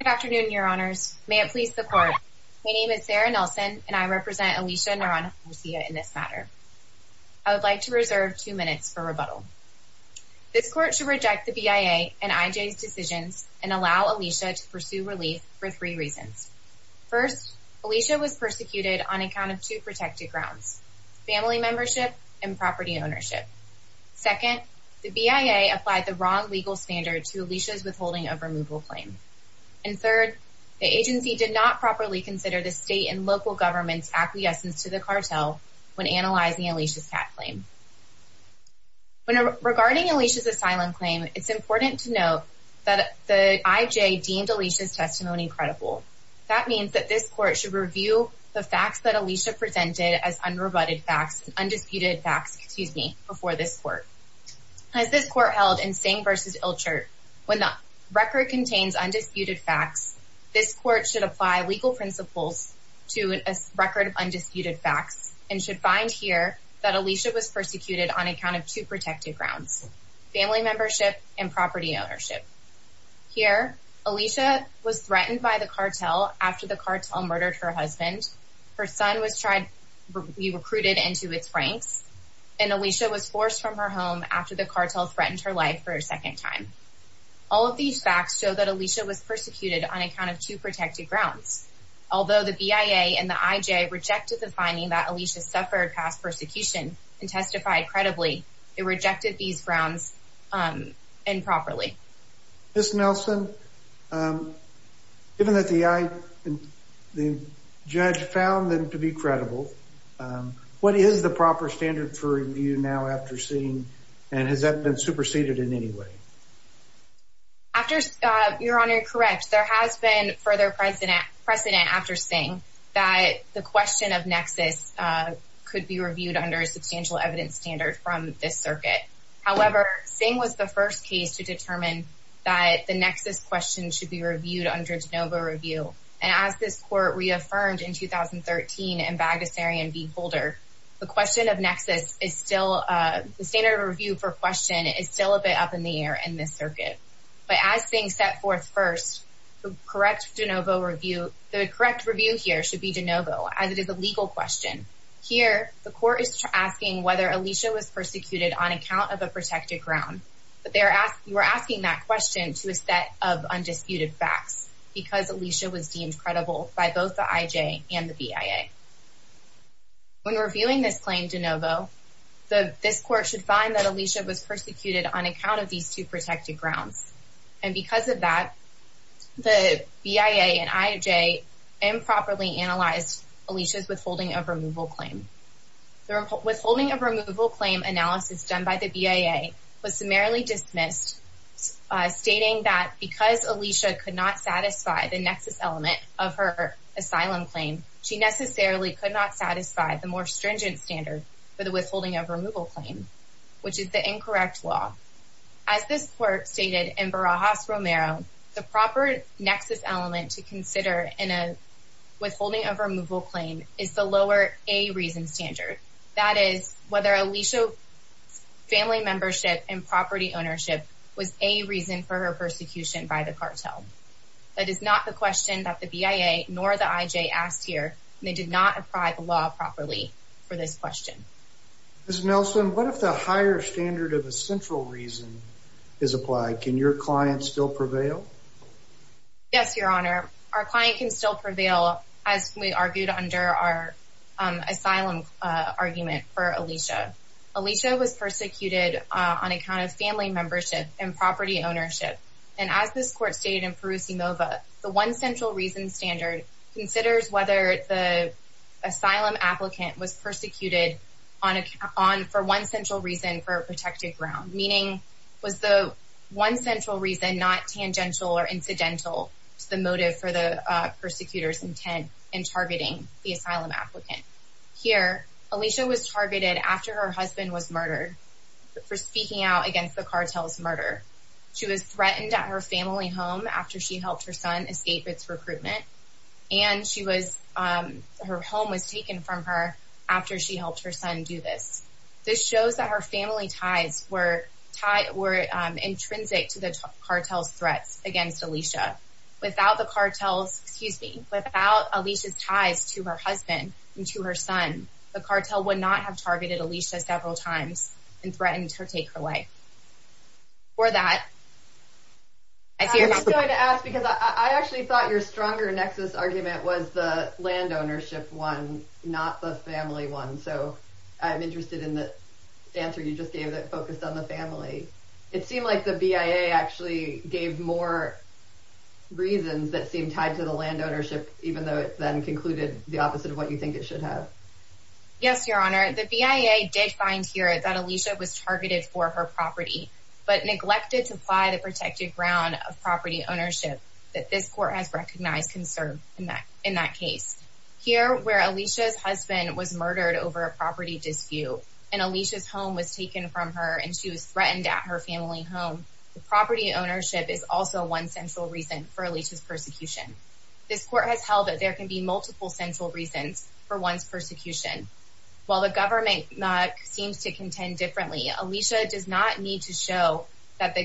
Good afternoon, Your Honors. May it please the Court, my name is Sarah Nelson and I represent Alicia Naranjo Garcia in this matter. I would like to reserve two minutes for rebuttal. This Court should reject the BIA and IJ's decisions and allow Alicia to pursue relief for three reasons. First, Alicia was persecuted on account of two protected grounds, family membership and property ownership. Second, the BIA applied the wrong legal standard to Alicia's withholding of removal claim. And third, the agency did not properly consider the state and local government's acquiescence to the cartel when analyzing Alicia's CAT claim. Regarding Alicia's asylum claim, it's important to note that the IJ deemed Alicia's testimony credible. That means that this Court should review the facts that Alicia presented as unrebutted facts, undisputed facts, excuse me, before this Court. As this Court held in Singh v. Ilchert, when the record contains undisputed facts, this Court should apply legal principles to a record of undisputed facts and should find here that Alicia was persecuted on account of two protected grounds, family membership and property ownership. Here, Alicia was threatened by the cartel after the cartel murdered her husband. Her son was tried, be recruited into its ranks, and Alicia was forced from her home after the cartel threatened her life for a second time. All of these facts show that Alicia was persecuted on account of two protected grounds. Although the BIA and the IJ rejected the finding that Alicia suffered past persecution and testified credibly, they rejected these grounds improperly. Ms. Nelson, given that the judge found them to be credible, what is the proper standard for review now after Singh, and has that been superseded in any way? Your Honor, you're correct. There has been further precedent after Singh that the question of nexus could be reviewed under a substantial evidence standard from this circuit. However, Singh was the first case to determine that the nexus question should be reviewed under de novo review. And as this court reaffirmed in 2013 in Bagasarian v. Holder, the standard review for question is still a bit up in the air in this circuit. But as Singh set forth first, the correct review here should be de novo, as it is a legal question. Here, the court is asking whether Alicia was persecuted on account of a protected ground. You are asking that question to a set of undisputed facts because Alicia was deemed credible by both the IJ and the BIA. When reviewing this claim de novo, this court should find that Alicia was persecuted on account of these two protected grounds. And because of that, the BIA and IJ improperly analyzed Alicia's withholding of removal claim. The withholding of removal claim analysis done by the BIA was summarily dismissed, stating that because Alicia could not satisfy the nexus element of her asylum claim, she necessarily could not satisfy the more stringent standard for the withholding of removal claim, which is the incorrect law. As this court stated in Barajas-Romero, the proper nexus element to consider in a withholding of removal claim is the lower A reason standard. That is, whether Alicia's family membership and property ownership was a reason for her persecution by the cartel. That is not the question that the BIA nor the IJ asked here, and they did not apply the law properly for this question. Ms. Nelson, what if the higher standard of a central reason is applied? Can your client still prevail? Yes, Your Honor. Our client can still prevail, as we argued under our asylum argument for Alicia. Alicia was persecuted on account of family membership and property ownership. And as this court stated in Parousi-Mova, the one central reason standard considers whether the asylum applicant was persecuted for one central reason for a protected ground, meaning was the one central reason not tangential or incidental to the motive for the persecutor's intent in targeting the asylum applicant. Here, Alicia was targeted after her husband was murdered for speaking out against the cartel's murder. She was threatened at her family home after she helped her son escape its recruitment, and her home was taken from her after she helped her son do this. This shows that her family ties were intrinsic to the cartel's threats against Alicia. Without the cartel's, excuse me, without Alicia's ties to her husband and to her son, the cartel would not have targeted Alicia several times and threatened to take her life. For that, I fear not. I was going to ask, because I actually thought your stronger nexus argument was the land ownership one, not the family one. So I'm interested in the answer you just gave that focused on the family. It seemed like the BIA actually gave more reasons that seemed tied to the land ownership, even though it then concluded the opposite of what you think it should have. Yes, Your Honor. The BIA did find here that Alicia was targeted for her property, but neglected to apply the protected ground of property ownership that this court has recognized can serve in that case. Here, where Alicia's husband was murdered over a property dispute, and Alicia's home was taken from her and she was threatened at her family home, the property ownership is also one central reason for Alicia's persecution. This court has held that there can be multiple central reasons for one's persecution. While the government seems to contend differently, Alicia does not need to show that a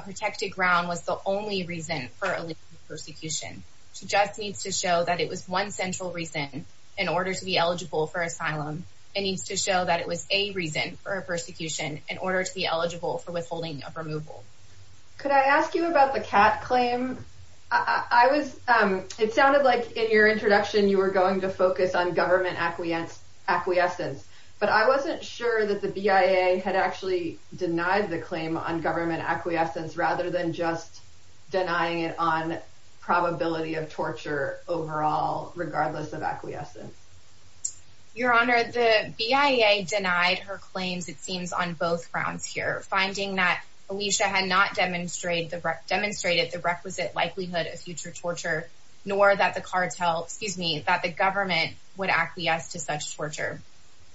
protected ground was the only reason for Alicia's persecution. She just needs to show that it was one central reason in order to be eligible for asylum. It needs to show that it was a reason for her persecution in order to be eligible for withholding of removal. Could I ask you about the CAT claim? It sounded like in your introduction you were going to focus on government acquiescence, but I wasn't sure that the BIA had actually denied the claim on government acquiescence rather than just denying it on probability of torture overall, regardless of acquiescence. Your Honor, the BIA denied her claims, it seems, on both grounds here, finding that Alicia had not demonstrated the requisite likelihood of future torture, nor that the government would acquiesce to such torture.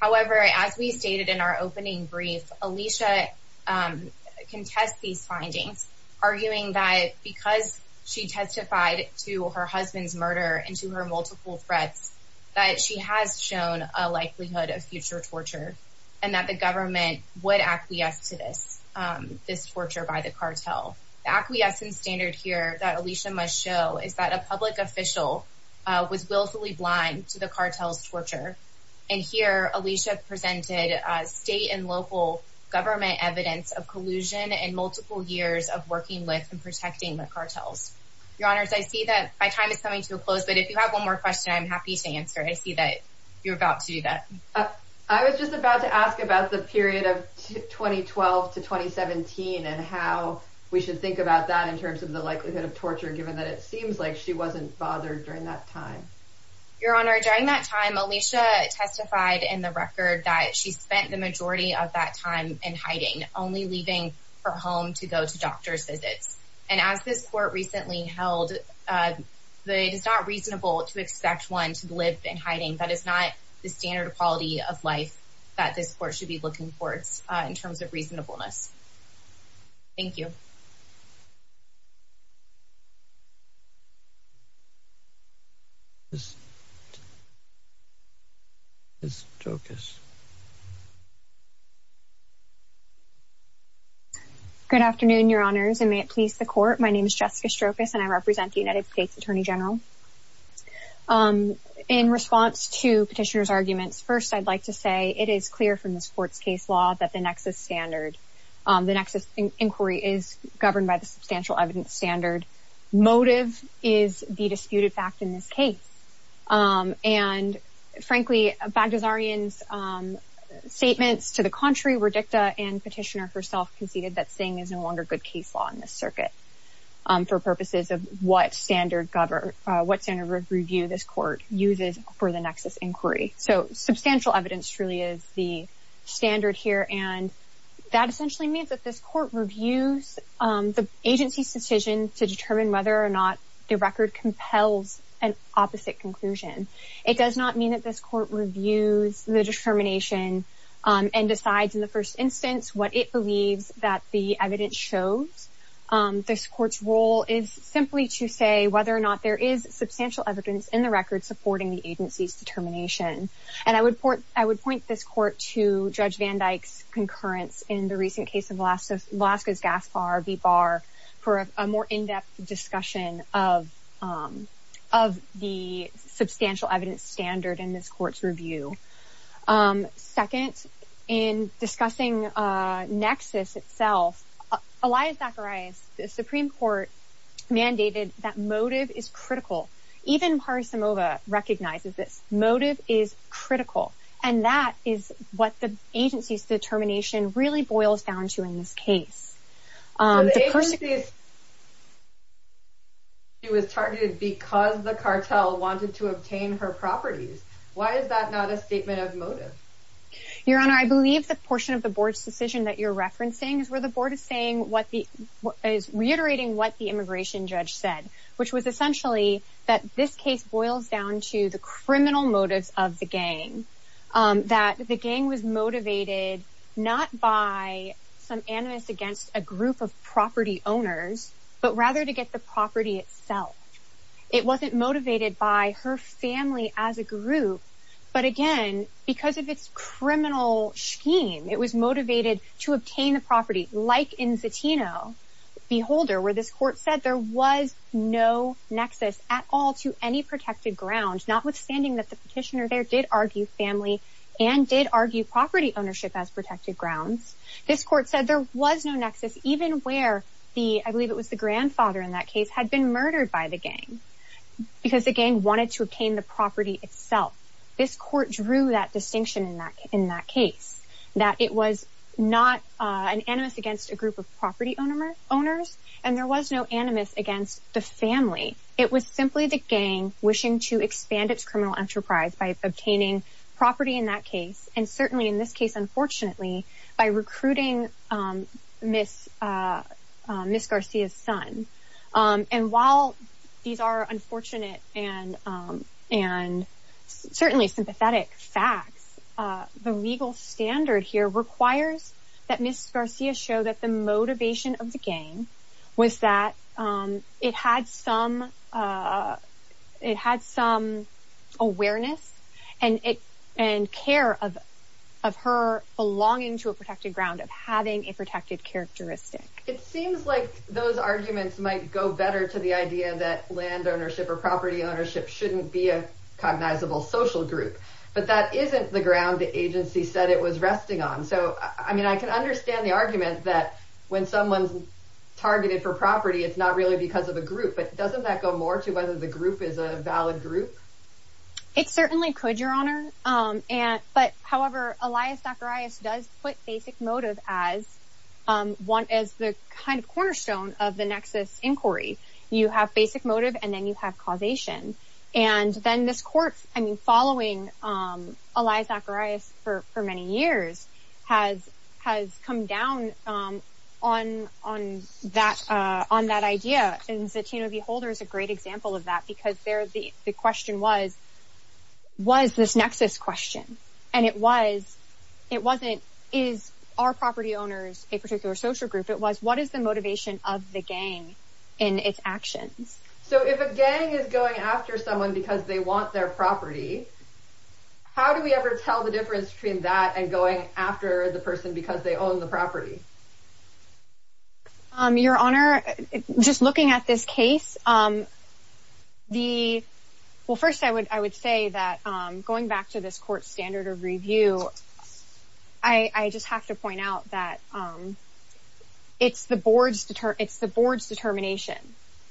However, as we stated in our opening brief, Alicia can test these findings, arguing that because she testified to her husband's murder and to her multiple threats, that she has shown a likelihood of future torture, and that the government would acquiesce to this torture by the cartel. The acquiescence standard here that Alicia must show is that a public official was willfully blind to the cartel's torture, and here Alicia presented state and local government evidence of collusion and multiple years of working with and protecting the cartels. Your Honors, I see that my time is coming to a close, but if you have one more question, I'm happy to answer. I see that you're about to do that. I was just about to ask about the period of 2012 to 2017, and how we should think about that in terms of the likelihood of torture, given that it seems like she wasn't bothered during that time. Your Honor, during that time, Alicia testified in the record that she spent the majority of that time in hiding, only leaving her home to go to doctor's visits. And as this Court recently held, it is not reasonable to expect one to live in hiding. That is not the standard quality of life that this Court should be looking for in terms of reasonableness. Thank you. Ms. Strokis. Good afternoon, Your Honors, and may it please the Court. My name is Jessica Strokis, and I represent the United States Attorney General. In response to Petitioner's arguments, first I'd like to say it is clear from this Court's case law that the nexus standard, the nexus inquiry, is governed by the substantial evidence standard. Motive is the disputed fact in this case. And frankly, Bagdasarian's statements to the contrary, Verdicta and Petitioner herself conceded that Singh is no longer good case law in this circuit for purposes of what standard review this Court uses for the nexus inquiry. So substantial evidence truly is the standard here, and that essentially means that this Court reviews the agency's decision to determine whether or not the record compels an opposite conclusion. It does not mean that this Court reviews the determination and decides in the first instance what it believes that the evidence shows. This Court's role is simply to say whether or not there is substantial evidence in the record supporting the agency's determination. And I would point this Court to Judge Van Dyke's concurrence in the recent case of Velazquez-Gaspar v. Barr for a more in-depth discussion of the substantial evidence standard in this Court's review. Second, in discussing nexus itself, Elias Zacharias, the Supreme Court mandated that motive is critical. Even Harisimova recognizes this. Motive is critical. And that is what the agency's determination really boils down to in this case. The agency was targeted because the cartel wanted to obtain her properties. Why is that not a statement of motive? Your Honor, I believe the portion of the Board's decision that you're referencing is reiterating what the immigration judge said, which was essentially that this case boils down to the criminal motives of the gang, that the gang was motivated not by some animus against a group of property owners, but rather to get the property itself. It wasn't motivated by her family as a group, but again, because of its criminal scheme, it was motivated to obtain the property, like in Zatino v. Holder, where this Court said there was no nexus at all to any protected grounds, notwithstanding that the petitioner there did argue family and did argue property ownership as protected grounds. This Court said there was no nexus, even where the, I believe it was the grandfather in that case, had been murdered by the gang because the gang wanted to obtain the property itself. This Court drew that distinction in that case, that it was not an animus against a group of property owners, and there was no animus against the family. It was simply the gang wishing to expand its criminal enterprise by obtaining property in that case, and certainly in this case, unfortunately, by recruiting Ms. Garcia's son. And while these are unfortunate and certainly sympathetic facts, the legal standard here requires that Ms. Garcia show that the motivation of the gang was that it had some awareness and care of her belonging to a protected ground, of having a protected characteristic. It seems like those arguments might go better to the idea that land ownership or property ownership shouldn't be a cognizable social group, but that isn't the ground the agency said it was resting on. So, I mean, I can understand the argument that when someone's targeted for property, it's not really because of a group, but doesn't that go more to whether the group is a valid group? It certainly could, Your Honor, but however, Elias Zacharias does put basic motive as the kind of cornerstone of the nexus inquiry. You have basic motive, and then you have causation. And then this court, I mean, following Elias Zacharias for many years, has come down on that idea, and Zatino v. Holder is a great example of that because the question was, was this nexus question? And it wasn't, is our property owners a particular social group? It was, what is the motivation of the gang in its actions? So if a gang is going after someone because they want their property, how do we ever tell the difference between that and going after the person because they own the property? Your Honor, just looking at this case, the, well, first I would say that going back to this court standard of review, I just have to point out that it's the board's determination,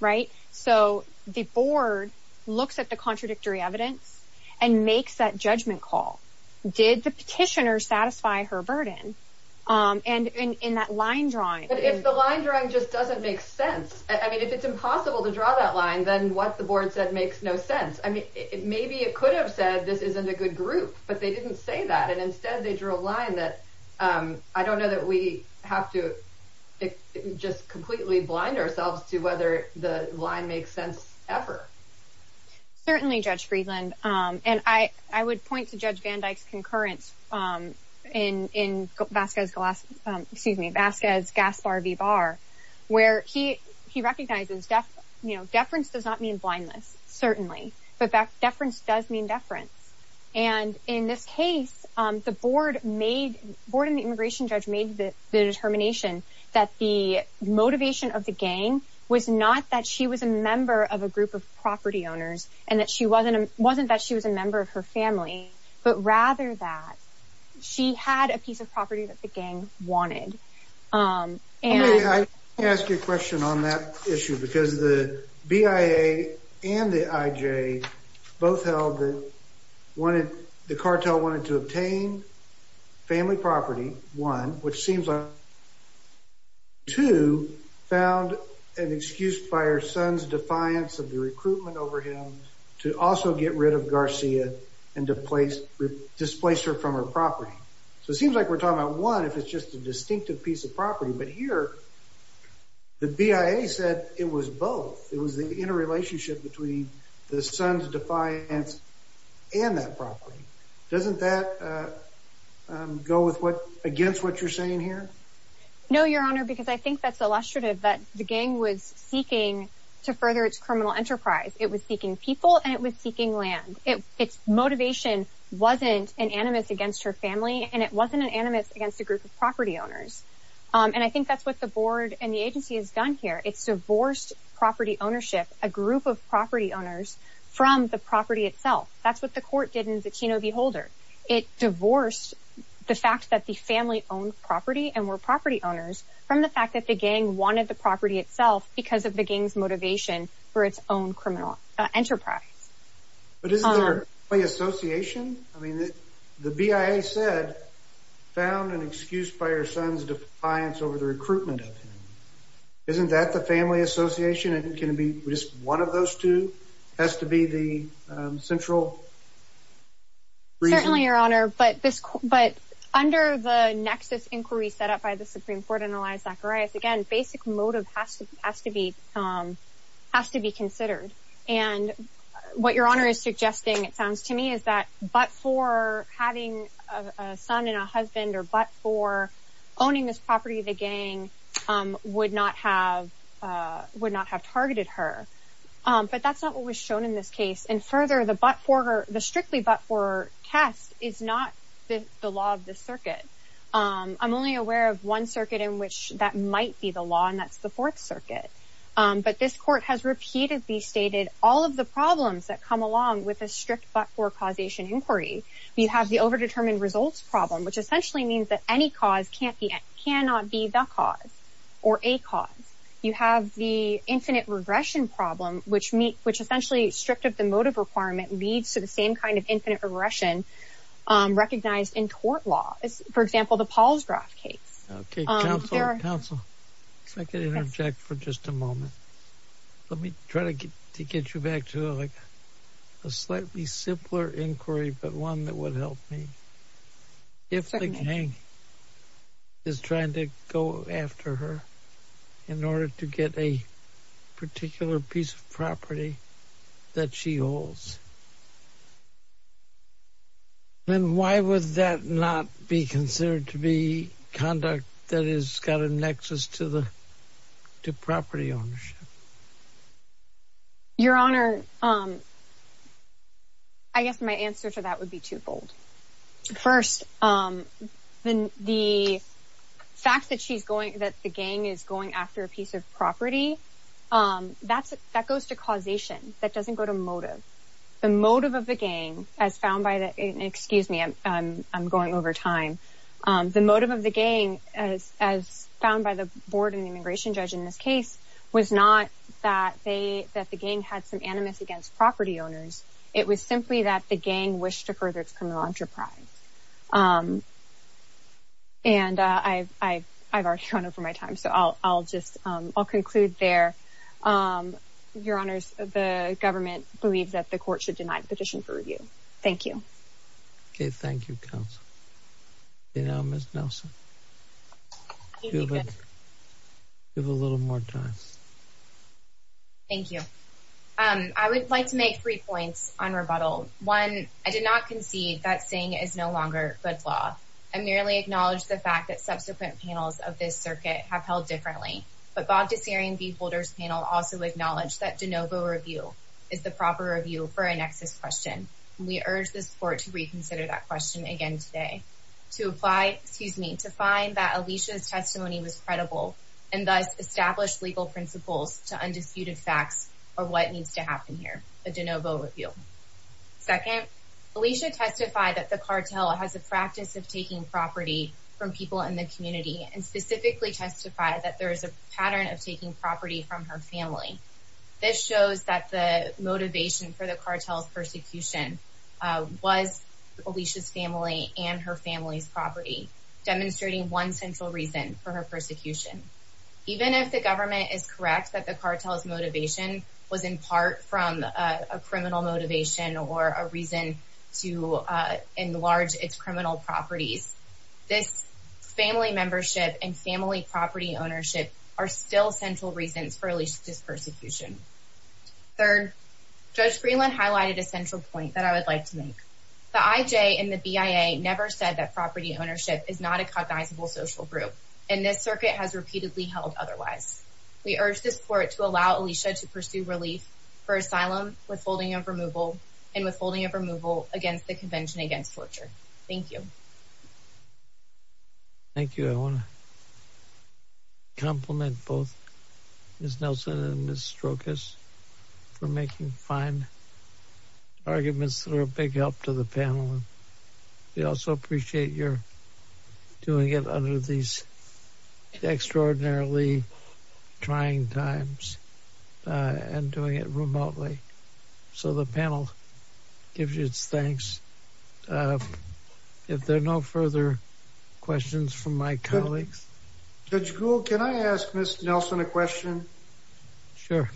right? So the board looks at the contradictory evidence and makes that judgment call. Did the petitioner satisfy her burden? And in that line drawing. But if the line drawing just doesn't make sense, I mean, if it's impossible to draw that line, then what the board said makes no sense. I mean, maybe it could have said this isn't a good group, but they didn't say that, and instead they drew a line that I don't know that we have to just completely blind ourselves to whether the line makes sense ever. Certainly, Judge Friedland. And I would point to Judge Van Dyke's concurrence in Vasquez-Gaspar v. Barr, where he recognizes deference does not mean blindness, certainly, but deference does mean deference. And in this case, the board made, the board and the immigration judge made the determination that the motivation of the gang was not that she was a member of a group of property owners and that she wasn't that she was a member of her family, but rather that she had a piece of property that the gang wanted. Let me ask you a question on that issue because the BIA and the IJ both held that the cartel wanted to obtain family property, one, which seems like two, found an excuse by her son's defiance of the recruitment over him to also get rid of Garcia and displace her from her property. So it seems like we're talking about one if it's just a distinctive piece of property, but here the BIA said it was both. It was the interrelationship between the son's defiance and that property. Doesn't that go against what you're saying here? No, Your Honor, because I think that's illustrative that the gang was seeking to further its criminal enterprise. It was seeking people and it was seeking land. Its motivation wasn't an animus against her family and it wasn't an animus against a group of property owners. And I think that's what the board and the agency has done here. It's divorced property ownership, a group of property owners, from the property itself. That's what the court did in the Keno v. Holder. It divorced the fact that the family owned property and were property owners from the fact that the gang wanted the property itself because of the gang's motivation for its own criminal enterprise. But isn't there a play association? I mean, the BIA said found an excuse by her son's defiance over the recruitment of him. Isn't that the family association? And can it be just one of those two has to be the central reason? Certainly, Your Honor, but under the nexus inquiry set up by the Supreme Court and Elias Zacharias, again, basic motive has to be considered. And what Your Honor is suggesting, it sounds to me, is that but for having a son and a husband or but for owning this property, the gang would not have targeted her. But that's not what was shown in this case. And further, the strictly but for test is not the law of the circuit. I'm only aware of one circuit in which that might be the law, and that's the Fourth Circuit. But this court has repeatedly stated all of the problems that come along with a strict but for causation inquiry. You have the overdetermined results problem, which essentially means that any cause can't be cannot be the cause or a cause. You have the infinite regression problem, which meet which essentially stripped of the motive requirement, leads to the same kind of infinite regression recognized in court law. For example, the Paul's draft case. OK, counsel, counsel, if I could interject for just a moment. Let me try to get you back to a slightly simpler inquiry. But one that would help me if the gang is trying to go after her in order to get a particular piece of property that she holds. And why would that not be considered to be conduct that is got a nexus to the property ownership? Your Honor. I guess my answer to that would be twofold. First, the fact that she's going that the gang is going after a piece of property, that's that goes to causation. That doesn't go to motive. The motive of the gang, as found by the excuse me, I'm going over time. The motive of the gang, as as found by the board and immigration judge in this case, was not that they that the gang had some animus against property owners. It was simply that the gang wished to further its criminal enterprise. And I've I've I've already gone over my time, so I'll I'll just I'll conclude there. Your Honor, the government believes that the court should deny petition for review. Thank you. Thank you. You know, Miss Nelson. Give a little more time. Thank you. I would like to make three points on rebuttal. One, I did not concede that saying is no longer good law. I merely acknowledge the fact that subsequent panels of this circuit have held differently. But Bogdasarian v. Holder's panel also acknowledged that de novo review is the proper review for a nexus question. We urge this court to reconsider that question again today to apply, excuse me, to find that Alicia's testimony was credible and thus established legal principles to undisputed facts or what needs to happen here. Second, Alicia testified that the cartel has a practice of taking property from people in the community and specifically testified that there is a pattern of taking property from her family. This shows that the motivation for the cartel's persecution was Alicia's family and her family's property, demonstrating one central reason for her persecution. Even if the government is correct that the cartel's motivation was in part from a criminal motivation or a reason to enlarge its criminal properties, this family membership and family property ownership are still central reasons for Alicia's persecution. Third, Judge Freeland highlighted a central point that I would like to make. The IJ and the BIA never said that property ownership is not a cognizable social group, and this circuit has repeatedly held otherwise. We urge this court to allow Alicia to pursue relief for asylum, withholding of removal, and withholding of removal against the Convention Against Torture. Thank you. Thank you. I want to compliment both Ms. Nelson and Ms. Strokis for making fine arguments that are a big help to the panel. We also appreciate your doing it under these extraordinarily trying times and doing it remotely. So the panel gives its thanks. If there are no further questions from my colleagues. Judge Gould, can I ask Ms. Nelson a question? Sure.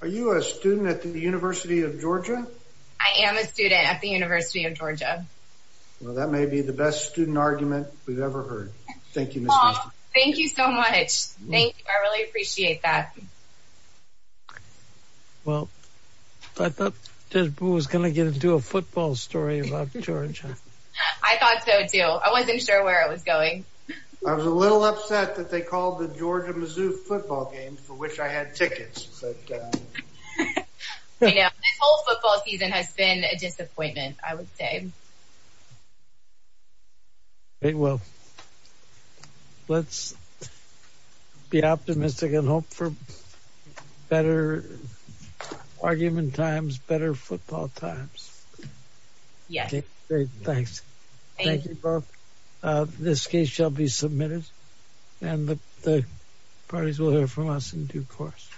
Are you a student at the University of Georgia? I am a student at the University of Georgia. Well, that may be the best student argument we've ever heard. Thank you, Ms. Nelson. Thank you so much. Thank you. I really appreciate that. Well, I thought Judge Boo was going to get into a football story about Georgia. I thought so, too. I wasn't sure where it was going. I was a little upset that they called the Georgia-Mizzou football game, for which I had tickets. I know. This whole football season has been a disappointment, I would say. Well, let's be optimistic and hope for better argument times, better football times. Yes. Great, thanks. Thank you both. This case shall be submitted and the parties will hear from us in due course.